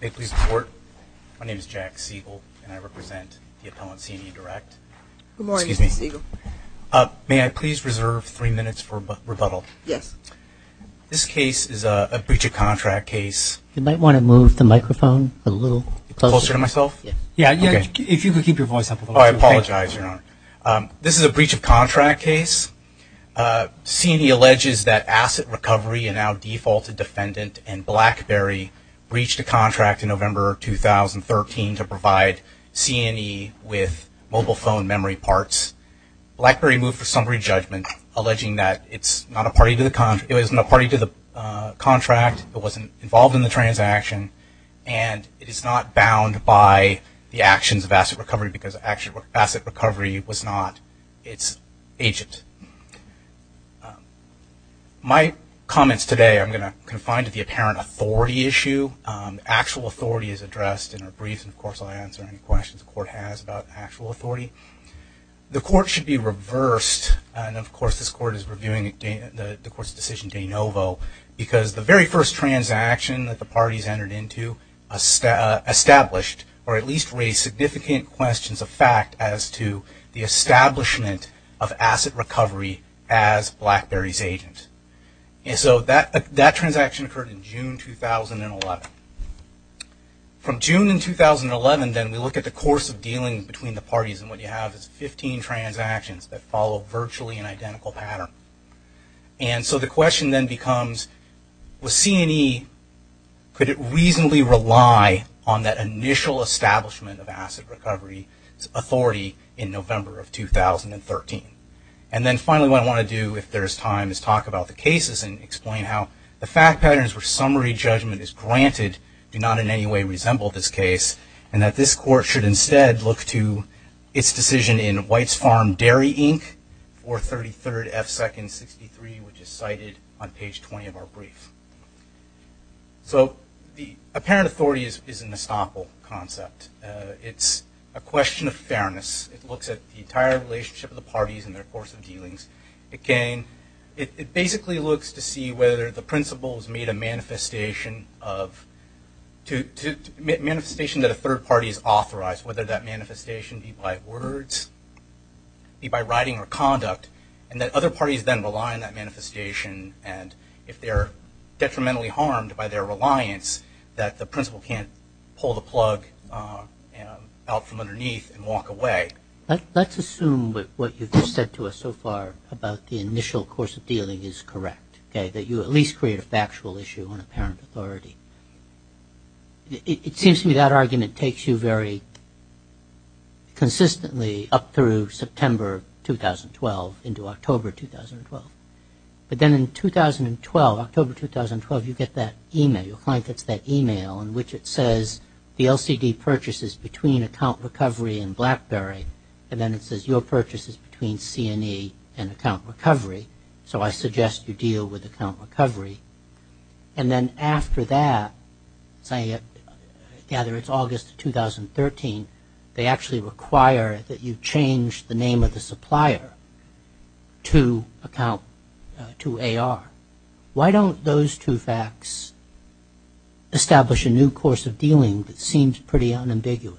May I please report, my name is Jack Siegel and I represent the appellant CNE Direct. Good morning, Mr. Siegel. May I please reserve three minutes for rebuttal? Yes. This case is a breach of contract case. You might want to move the microphone a little closer. Closer to myself? Yes. Yeah, if you could keep your voice up. Oh, I apologize, Your Honor. This is a breach of contract case. CNE alleges that Asset Recovery, a now defaulted defendant and Blackberry, breached a contract in November 2013 to provide CNE with mobile phone memory parts. Blackberry moved for summary judgment alleging that it was not a party to the contract, it wasn't involved in the transaction, and it is not bound by the actions of Asset Recovery because Asset Recovery was not its agent. My comments today are going to confine to the apparent authority issue. Actual authority is addressed in our briefs, and, of course, I'll answer any questions the Court has about actual authority. The Court should be reversed, and, of course, this Court is reviewing the Court's decision de novo, because the very first transaction that the parties entered into established or at least raised significant questions of fact as to the establishment of Asset Recovery as Blackberry's agent. And so that transaction occurred in June 2011. From June in 2011, then, we look at the course of dealing between the parties, and what you have is 15 transactions that follow virtually an identical pattern. And so the question then becomes, with CNE, could it reasonably rely on that initial establishment of Asset Recovery's authority in November of 2013? And then, finally, what I want to do if there's time is talk about the cases and explain how the fact patterns where summary judgment is granted do not in any way resemble this case, and that this Court should instead look to its decision in White's Farm Dairy, Inc., 433rd F. 2nd. 63, which is cited on page 20 of our brief. So the apparent authority is an estoppel concept. It's a question of fairness. It looks at the entire relationship of the parties and their course of dealings. It basically looks to see whether the principal has made a manifestation that a third party has authorized, whether that manifestation be by words, be by writing or conduct, and that other parties then rely on that manifestation. And if they're detrimentally harmed by their reliance, that the principal can't pull the plug out from underneath and walk away. Let's assume what you've just said to us so far about the initial course of dealing is correct, okay, that you at least create a factual issue on apparent authority. It seems to me that argument takes you very consistently up through September 2012 into October 2012. But then in 2012, October 2012, you get that e-mail. Your client gets that e-mail in which it says the LCD purchase is between Account Recovery and BlackBerry, and then it says your purchase is between C&E and Account Recovery. So I suggest you deal with Account Recovery. And then after that, say, I gather it's August of 2013, they actually require that you change the name of the supplier to AR. Why don't those two facts establish a new course of dealing that seems pretty unambiguous?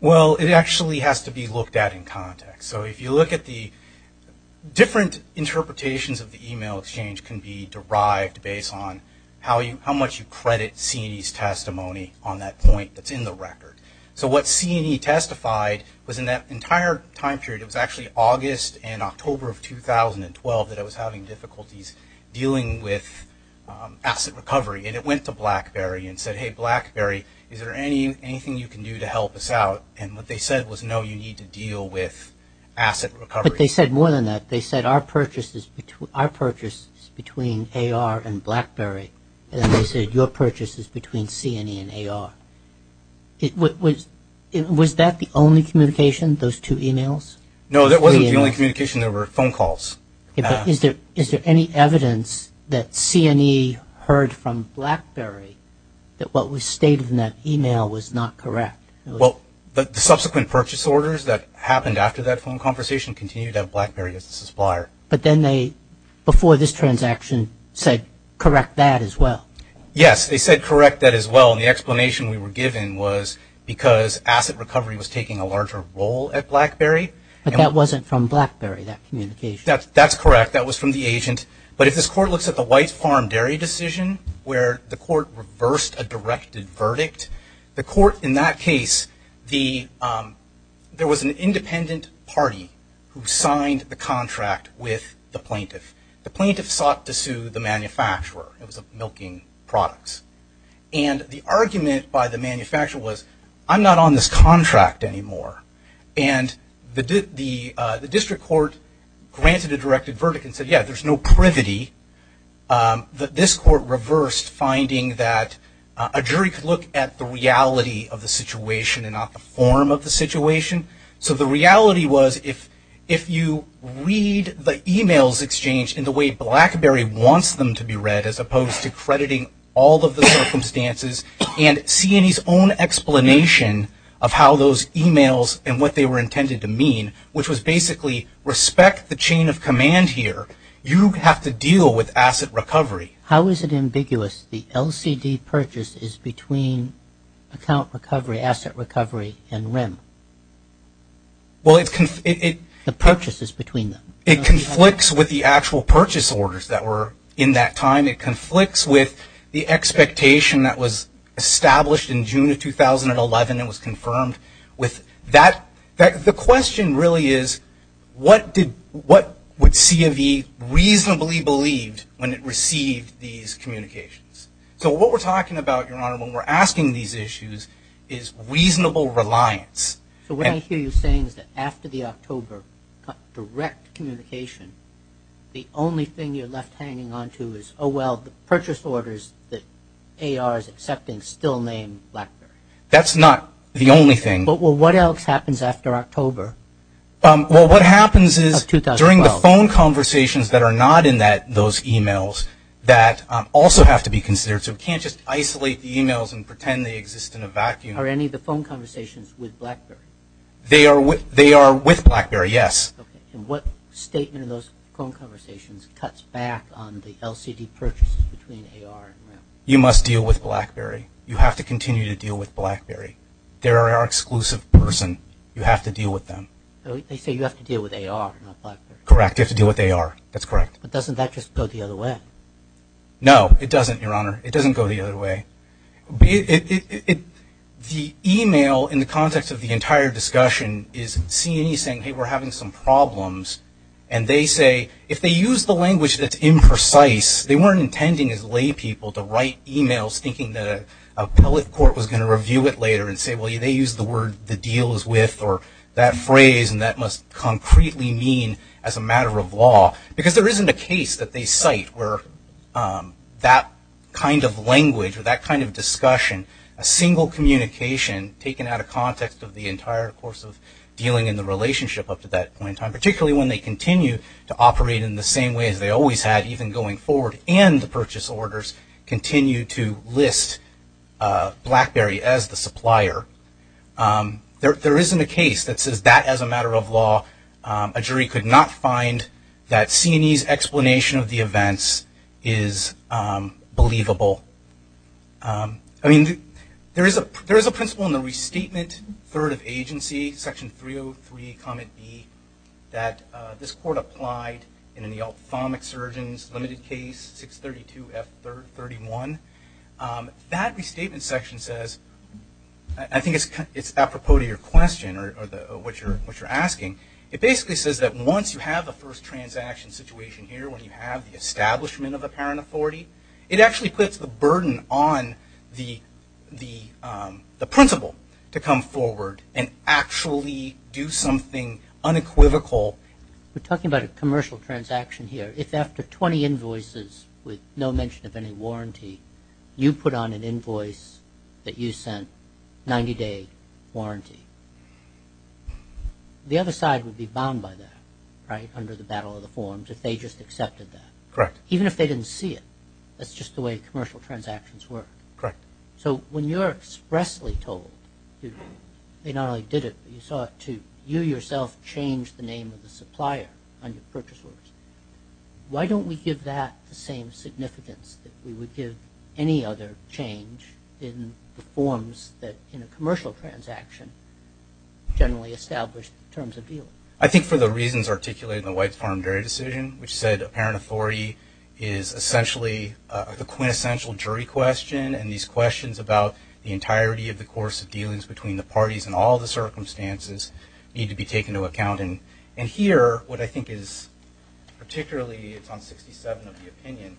Well, it actually has to be looked at in context. So if you look at the different interpretations of the e-mail exchange can be derived based on how much you credit C&E's testimony on that point that's in the record. So what C&E testified was in that entire time period, it was actually August and October of 2012 that I was having difficulties dealing with asset recovery. And it went to BlackBerry and said, hey, BlackBerry, is there anything you can do to help us out? And what they said was, no, you need to deal with asset recovery. But they said more than that. They said our purchase is between AR and BlackBerry. And then they said your purchase is between C&E and AR. Was that the only communication, those two e-mails? No, that wasn't the only communication. There were phone calls. Is there any evidence that C&E heard from BlackBerry that what was stated in that e-mail was not correct? Well, the subsequent purchase orders that happened after that phone conversation continued at BlackBerry as a supplier. But then they, before this transaction, said correct that as well. Yes, they said correct that as well. And the explanation we were given was because asset recovery was taking a larger role at BlackBerry. But that wasn't from BlackBerry, that communication. That's correct. That was from the agent. But if this court looks at the White Farm Dairy decision where the court reversed a directed verdict, the court in that case, there was an independent party who signed the contract with the plaintiff. The plaintiff sought to sue the manufacturer. It was a milking products. And the argument by the manufacturer was, I'm not on this contract anymore. And the district court granted a directed verdict and said, yeah, there's no privity. But this court reversed finding that a jury could look at the reality of the situation and not the form of the situation. So the reality was if you read the e-mails exchanged in the way BlackBerry wants them to be read as opposed to crediting all of the circumstances and seeing his own explanation of how those e-mails and what they were intended to mean, which was basically respect the chain of command here, you have to deal with asset recovery. How is it ambiguous? The LCD purchase is between account recovery, asset recovery, and RIM. Well, it's – The purchase is between them. It conflicts with the actual purchase orders that were in that time. It conflicts with the expectation that was established in June of 2011 and was confirmed with that. The question really is what would C of E reasonably believed when it received these communications? So what we're talking about, Your Honor, when we're asking these issues is reasonable reliance. So what I hear you saying is that after the October direct communication, the only thing you're left hanging onto is, oh, well, the purchase orders that AR is accepting still name BlackBerry. That's not the only thing. Well, what else happens after October of 2012? Well, what happens is during the phone conversations that are not in those e-mails that also have to be considered. So we can't just isolate the e-mails and pretend they exist in a vacuum. Are any of the phone conversations with BlackBerry? They are with BlackBerry, yes. Okay. And what statement in those phone conversations cuts back on the LCD purchases between AR and RAM? You must deal with BlackBerry. You have to continue to deal with BlackBerry. They are our exclusive person. You have to deal with them. They say you have to deal with AR, not BlackBerry. Correct. You have to deal with AR. That's correct. But doesn't that just go the other way? No, it doesn't, Your Honor. It doesn't go the other way. The e-mail in the context of the entire discussion is C of E saying, hey, we're having some problems. And they say, if they use the language that's imprecise, they weren't intending as laypeople to write e-mails thinking that a appellate court was going to review it later and say, well, they used the word the deal is with or that phrase, and that must concretely mean as a matter of law. Because there isn't a case that they cite where that kind of language or that kind of discussion, a single communication taken out of context of the entire course of dealing in the relationship up to that point in time, particularly when they continue to operate in the same way as they always had, even going forward, and the purchase orders continue to list BlackBerry as the supplier. There isn't a case that says that as a matter of law, a jury could not find that C and E's explanation of the events is believable. I mean, there is a principle in the restatement third of agency, section 303, comment B, that this court applied in the ophthalmic surgeons limited case 632F31. That restatement section says, I think it's apropos to your question or what you're asking, it basically says that once you have the first burden on the principle to come forward and actually do something unequivocal. We're talking about a commercial transaction here. If after 20 invoices with no mention of any warranty, you put on an invoice that you sent 90-day warranty, the other side would be bound by that, right, under the battle of the forms if they just accepted that. Correct. Even if they didn't see it, that's just the way commercial transactions work. Correct. So when you're expressly told, they not only did it, but you saw it too, you yourself changed the name of the supplier on your purchase orders. Why don't we give that the same significance that we would give any other change in the forms that, in a commercial transaction, generally established terms of deal? I think for the reasons articulated in the White Farm Jury Decision, which said apparent authority is essentially the quintessential jury question, and these questions about the entirety of the course of dealings between the parties and all the circumstances need to be taken into account. And here, what I think is particularly, it's on 67 of the opinion,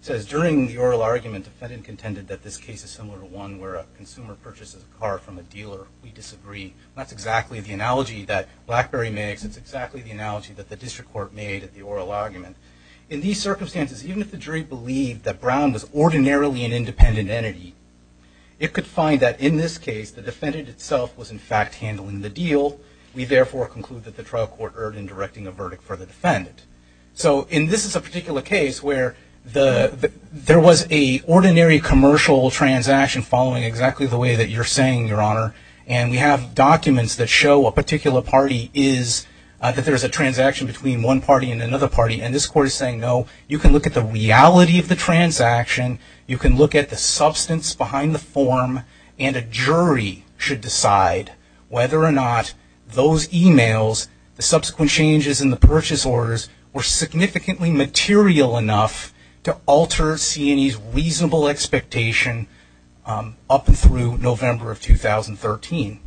it says during the oral argument, defendant contended that this case is similar to one where a consumer purchases a car from a dealer. We disagree. That's exactly the analogy that BlackBerry makes. It's exactly the analogy that the district court made at the oral argument. In these circumstances, even if the jury believed that Brown was ordinarily an independent entity, it could find that, in this case, the defendant itself was, in fact, handling the deal. We, therefore, conclude that the trial court erred in directing a verdict for the defendant. So, and this is a particular case where there was a ordinary commercial transaction following exactly the way that you're saying, Your Honor, and we have documents that show a particular party is, that there's a transaction between one party and another party, and this court is saying, No. You can look at the reality of the transaction. You can look at the substance behind the form, and a jury should decide whether or not those emails, the subsequent changes in the purchase orders, were significantly material enough to alter C&E's reasonable expectation up and through November of 2013.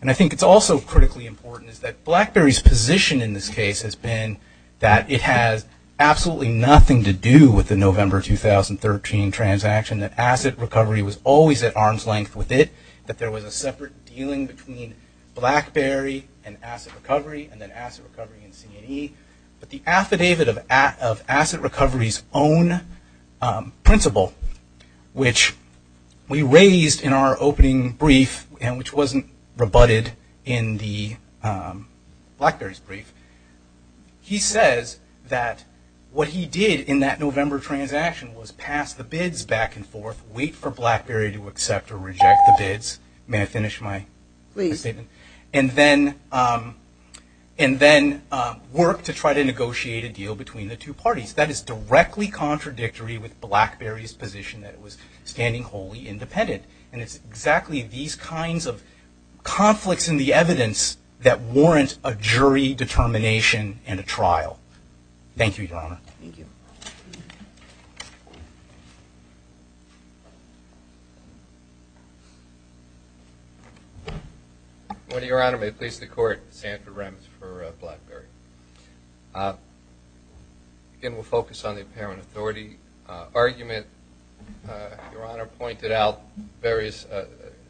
And I think it's also critically important is that BlackBerry's position in this case has been that it has absolutely nothing to do with the November 2013 transaction, that asset recovery was always at arm's length with it, that there was a separate dealing between BlackBerry and asset recovery, and then asset recovery and C&E. But the affidavit of asset recovery's own principle, which we raised in our opening brief, and which wasn't rebutted in the BlackBerry's brief, he says that what he did in that November transaction was pass the bids back and forth, wait for BlackBerry to accept or reject the bids. May I finish my statement? Please. And then work to try to negotiate a deal between the two parties. That is directly contradictory with BlackBerry's position that it was standing wholly independent. And it's exactly these kinds of conflicts in the evidence that warrant a jury determination and a trial. Thank you, Your Honor. Your Honor, may it please the Court, Sandra Remmes for BlackBerry. Again, we'll focus on the apparent authority argument. Your Honor pointed out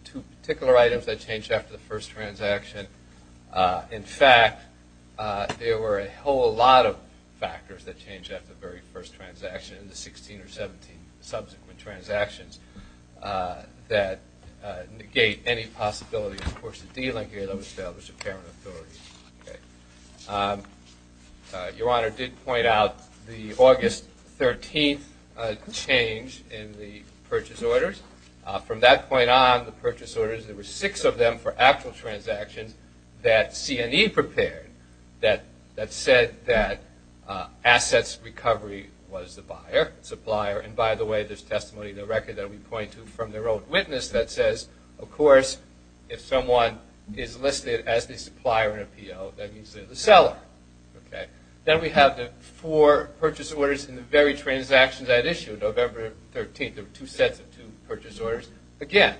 two particular items that changed after the first transaction. In fact, there were a whole lot of factors that changed after the very first transaction, the 16 or 17 subsequent transactions, that negate any possibility, of course, of dealing here that would establish apparent authority. Your Honor did point out the August 13th change in the purchase orders. From that point on, the purchase orders, there were six of them for actual transactions that C&E prepared that said that assets recovery was the buyer, supplier. And, by the way, there's testimony in the record that we point to from their own witness that says, of course, if someone is listed as the supplier in a P.O., that means they're the seller. Then we have the four purchase orders in the very transactions that issued November 13th. There were two sets of two purchase orders. Again,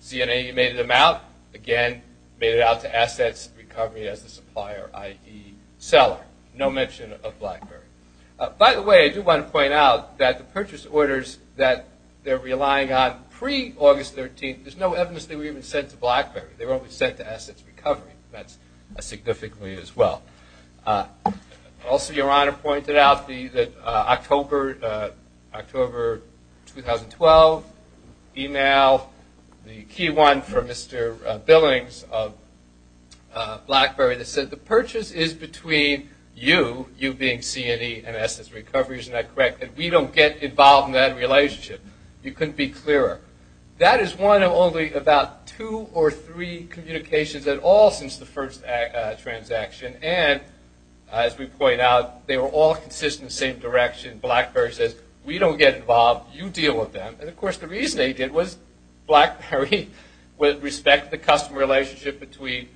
C&E made them out. Again, made it out to assets recovery as the supplier, i.e., seller. No mention of BlackBerry. By the way, I do want to point out that the purchase orders that they're relying on pre-August 13th, there's no evidence they were even sent to BlackBerry. They were only sent to assets recovery. That's significant as well. Also, Your Honor pointed out the October 2012 email, the key one from Mr. Billings of BlackBerry that said, the purchase is between you, you being C&E, and assets recovery. Isn't that correct? And we don't get involved in that relationship. You couldn't be clearer. That is one of only about two or three communications at all since the first transaction. And, as we point out, they were all consistent in the same direction. BlackBerry says, we don't get involved. You deal with them. And, of course, the reason they did was BlackBerry, with respect to the customer relationship between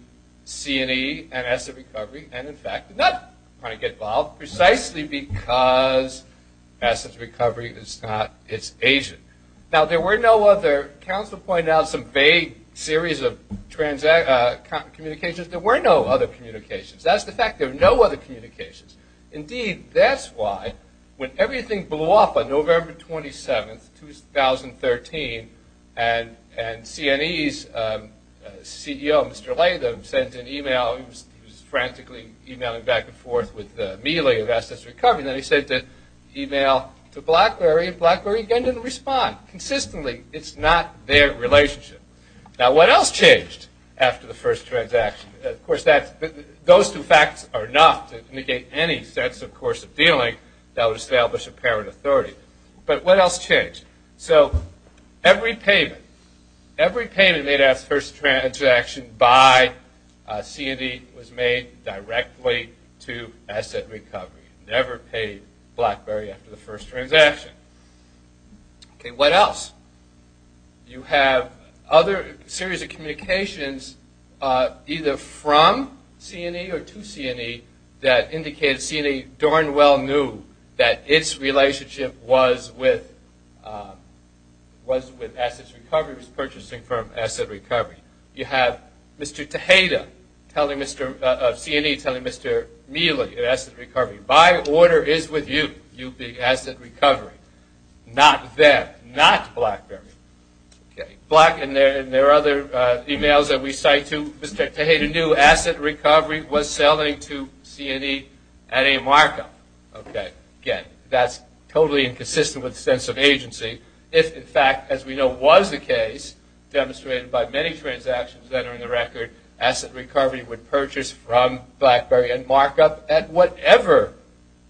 C&E and assets recovery, and, in fact, not trying to get involved, precisely because assets recovery is not its agent. Now, there were no other, counsel pointed out some vague series of communications, there were no other communications. That's the fact, there were no other communications. Indeed, that's why, when everything blew up on November 27th, 2013, and C&E's CEO, Mr. Latham, sent an email, he was frantically emailing back and forth with the melee of assets recovery, and then he sent an email to BlackBerry, and BlackBerry, again, didn't respond. Consistently, it's not their relationship. Now, what else changed after the first transaction? Of course, those two facts are enough to indicate any sense, of course, of dealing that would establish apparent authority. But what else changed? So, every payment, every payment made after the first transaction by C&E was made directly to asset recovery. Never paid BlackBerry after the first transaction. Okay, what else? You have other series of communications, either from C&E or to C&E, that indicated C&E darn well knew that its relationship was with assets recovery, was purchasing from asset recovery. You have Mr. Tejeda of C&E telling Mr. Mealy of asset recovery, by order is with you, you be asset recovery. Not them. Not BlackBerry. Black, and there are other emails that we cite too, Mr. Tejeda knew asset recovery was selling to C&E at a markup. Again, that's totally inconsistent with sense of agency. If, in fact, as we know was the case, demonstrated by many transactions that are in the record, asset recovery would purchase from BlackBerry and markup at whatever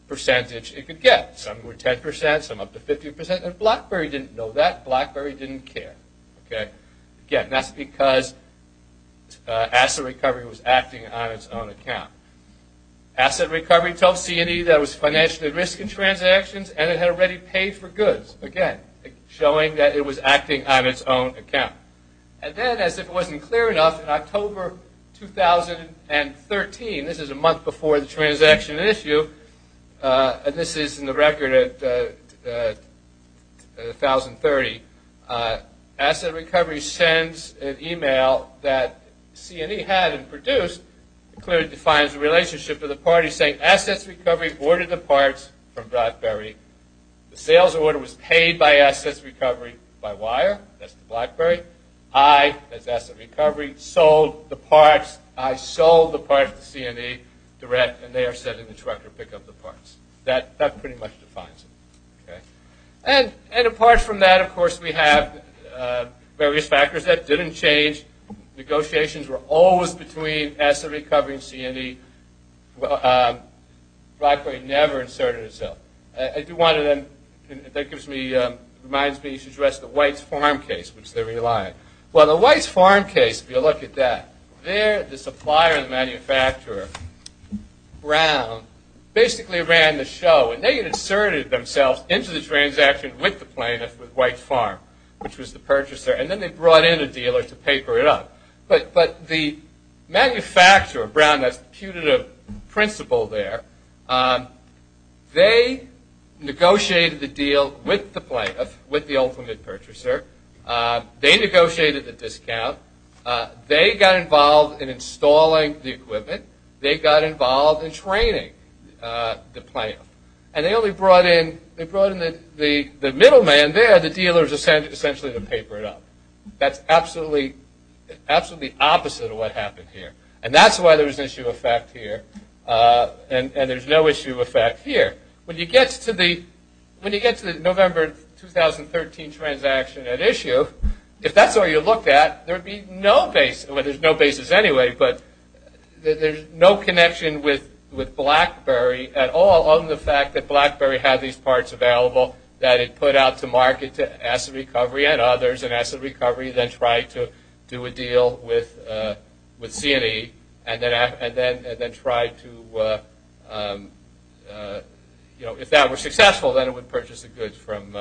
percentage it could get. Some were 10%, some up to 50%, and BlackBerry didn't know that. BlackBerry didn't care. Again, that's because asset recovery was acting on its own account. Asset recovery told C&E that it was financially at risk in transactions and it had already paid for goods, again, showing that it was acting on its own account. And then, as if it wasn't clear enough, in October 2013, this is a month before the transaction issue, and this is in the record at 1030, asset recovery sends an email that C&E had and produced. It clearly defines the relationship of the parties saying, assets recovery ordered the parts from BlackBerry. The sales order was paid by assets recovery by wire. That's the BlackBerry. I, as asset recovery, sold the parts. I sold the parts to C&E direct, and they are sending the director to pick up the parts. That pretty much defines it. And apart from that, of course, we have various factors that didn't change. Negotiations were always between asset recovery and C&E. BlackBerry never inserted itself. I do want to then – that reminds me to address the White's Farm case, which they rely on. Well, the White's Farm case, if you look at that, there the supplier and the manufacturer, Brown, basically ran the show, and they inserted themselves into the transaction with the plaintiff with White's Farm, which was the purchaser, and then they brought in a dealer to paper it up. But the manufacturer, Brown, that's the punitive principle there, they negotiated the deal with the plaintiff, with the ultimate purchaser. They negotiated the discount. They got involved in installing the equipment. They got involved in training the plaintiff. And they only brought in – they brought in the middle man there, the dealer, essentially to paper it up. That's absolutely opposite of what happened here. And that's why there was an issue of fact here, and there's no issue of fact here. When you get to the November 2013 transaction at issue, if that's the way you looked at it, there would be no basis – well, there's no basis anyway, but there's no connection with BlackBerry at all on the fact that BlackBerry had these parts available that it put out to market to Asset Recovery and others, and Asset Recovery then tried to do a deal with C&E and then tried to – if that were successful, then it would purchase the goods from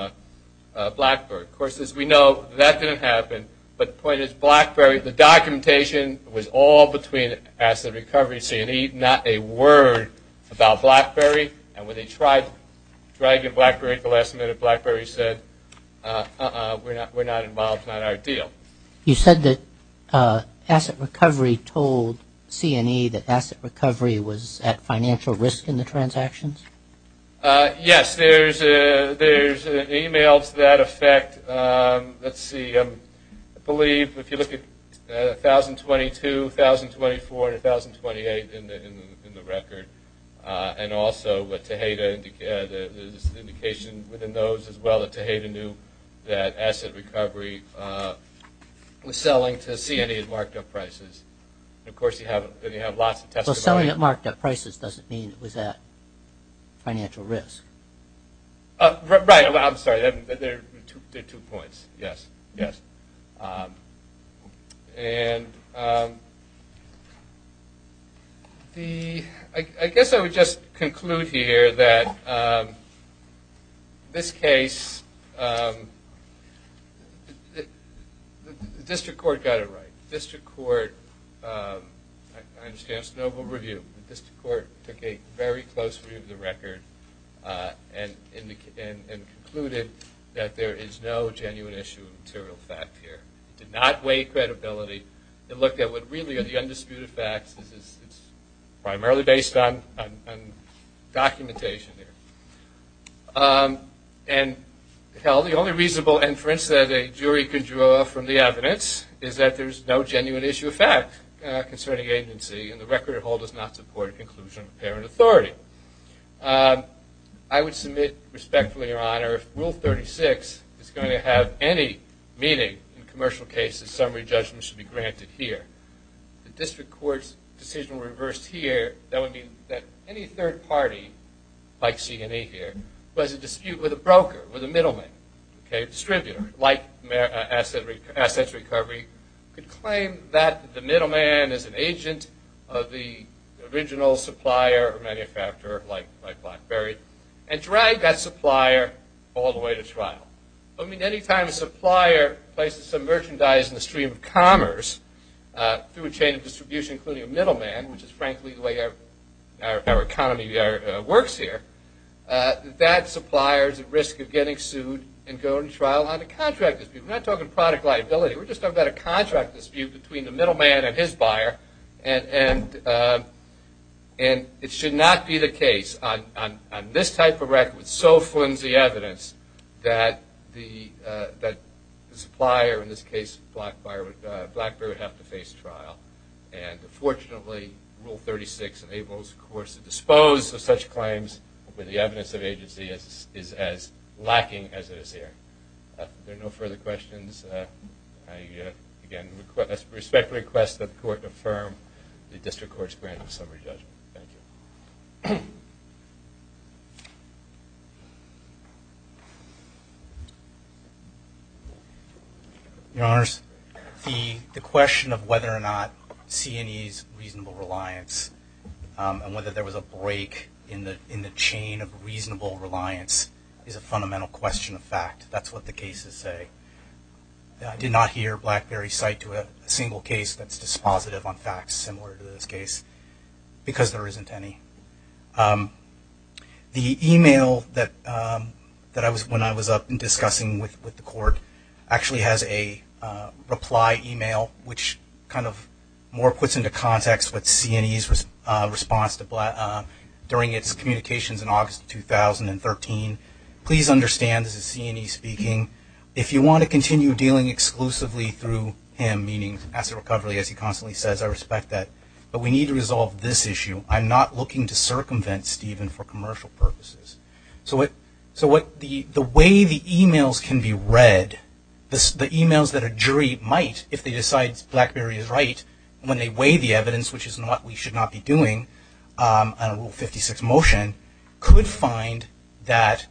BlackBerry. Of course, as we know, that didn't happen. But the point is BlackBerry – the documentation was all between Asset Recovery, C&E, not a word about BlackBerry. And when they tried dragging BlackBerry at the last minute, BlackBerry said, uh-uh, we're not involved, it's not our deal. You said that Asset Recovery told C&E that Asset Recovery was at financial risk in the transactions? Yes, there's emails that affect – let's see. I believe if you look at 1,022, 1,024, and 1,028 in the record, and also Tejeda – there's an indication within those as well that Tejeda knew that Asset Recovery was selling to C&E at marked-up prices. Of course, you have lots of testimonies. So selling at marked-up prices doesn't mean it was at financial risk? Right, I'm sorry, there are two points. Yes, yes. And I guess I would just conclude here that this case – the district court got it right. The district court – I understand it's a noble review. The district court took a very close view of the record and concluded that there is no genuine issue of material fact here. It did not weigh credibility. It looked at what really are the undisputed facts. It's primarily based on documentation here. And, hell, the only reasonable inference that a jury could draw from the evidence is that there's no genuine issue of fact concerning agency, and the record it holds does not support a conclusion of apparent authority. I would submit respectfully, Your Honor, if Rule 36 is going to have any meaning in commercial cases, summary judgment should be granted here. If the district court's decision were reversed here, that would mean that any third party, like C&E here, who has a dispute with a broker, with a middleman, distributor, like Asset Recovery, could claim that the middleman is an agent of the original supplier or manufacturer, like BlackBerry, and drag that supplier all the way to trial. I mean, any time a supplier places some merchandise in the stream of commerce through a chain of distribution, including a middleman, which is frankly the way our economy works here, that supplier is at risk of getting sued and going to trial under contract. We're not talking product liability. We're just talking about a contract dispute between the middleman and his buyer, and it should not be the case on this type of record with so flimsy evidence that the supplier, in this case BlackBerry, would have to face trial. And fortunately, Rule 36 enables, of course, to dispose of such claims where the evidence of agency is as lacking as it is here. If there are no further questions, I again respectfully request that the Court affirm the District Court's grant of summary judgment. Thank you. Your Honors, the question of whether or not C&E's reasonable reliance and whether there was a break in the chain of reasonable reliance is a fundamental question of fact. That's what the cases say. I did not hear BlackBerry cite to a single case that's dispositive on facts similar to this case because there isn't any. The email that when I was up and discussing with the Court actually has a reply email, which kind of more puts into context what C&E's response during its communications in August 2013. Please understand this is C&E speaking. If you want to continue dealing exclusively through him, meaning asset recovery, as he constantly says, I respect that, but we need to resolve this issue. I'm not looking to circumvent Stephen for commercial purposes. So the way the emails can be read, the emails that a jury might, if they decide BlackBerry is right, when they weigh the evidence, which is what we should not be doing under Rule 56 motion, could find that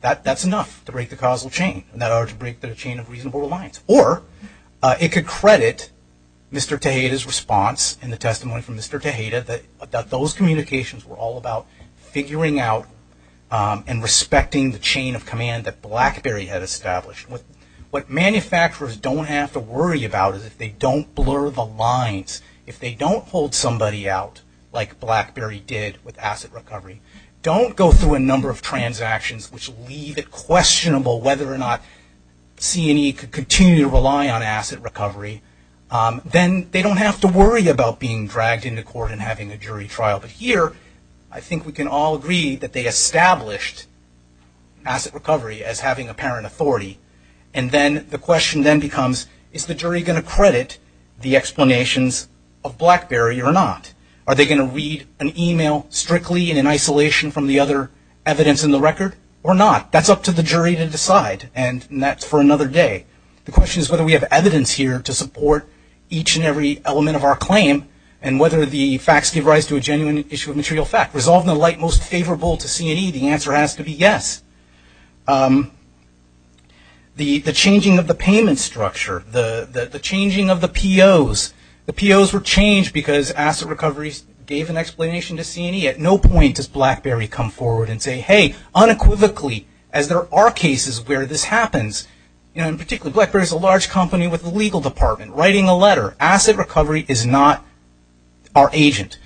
that's enough to break the causal chain, in order to break the chain of reasonable reliance. Or it could credit Mr. Tejeda's response in the testimony from Mr. Tejeda that those communications were all about figuring out and respecting the chain of command that BlackBerry had established. What manufacturers don't have to worry about is if they don't blur the lines, if they don't hold somebody out like BlackBerry did with asset recovery, don't go through a number of transactions which leave it questionable whether or not C&E could continue to rely on asset recovery, then they don't have to worry about being dragged into court and having a jury trial. But here, I think we can all agree that they established asset recovery as having apparent authority. And then the question then becomes, is the jury going to credit the explanations of BlackBerry or not? Are they going to read an email strictly and in isolation from the other evidence in the record or not? That's up to the jury to decide, and that's for another day. The question is whether we have evidence here to support each and every element of our claim and whether the facts give rise to a genuine issue of material fact. Resolved in a light most favorable to C&E, the answer has to be yes. The changing of the payment structure, the changing of the POs, the POs were changed because asset recovery gave an explanation to C&E. At no point does BlackBerry come forward and say, hey, unequivocally, as there are cases where this happens, and particularly BlackBerry is a large company with a legal department, writing a letter, asset recovery is not our agent.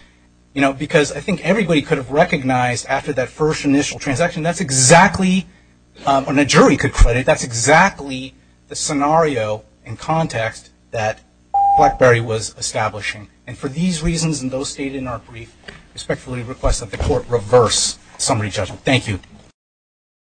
Because I think everybody could have recognized after that first initial transaction, that's exactly, when a jury could credit, that's exactly the scenario and context that BlackBerry was establishing. And for these reasons and those stated in our brief, I respectfully request that the court reverse summary judgment. Thank you.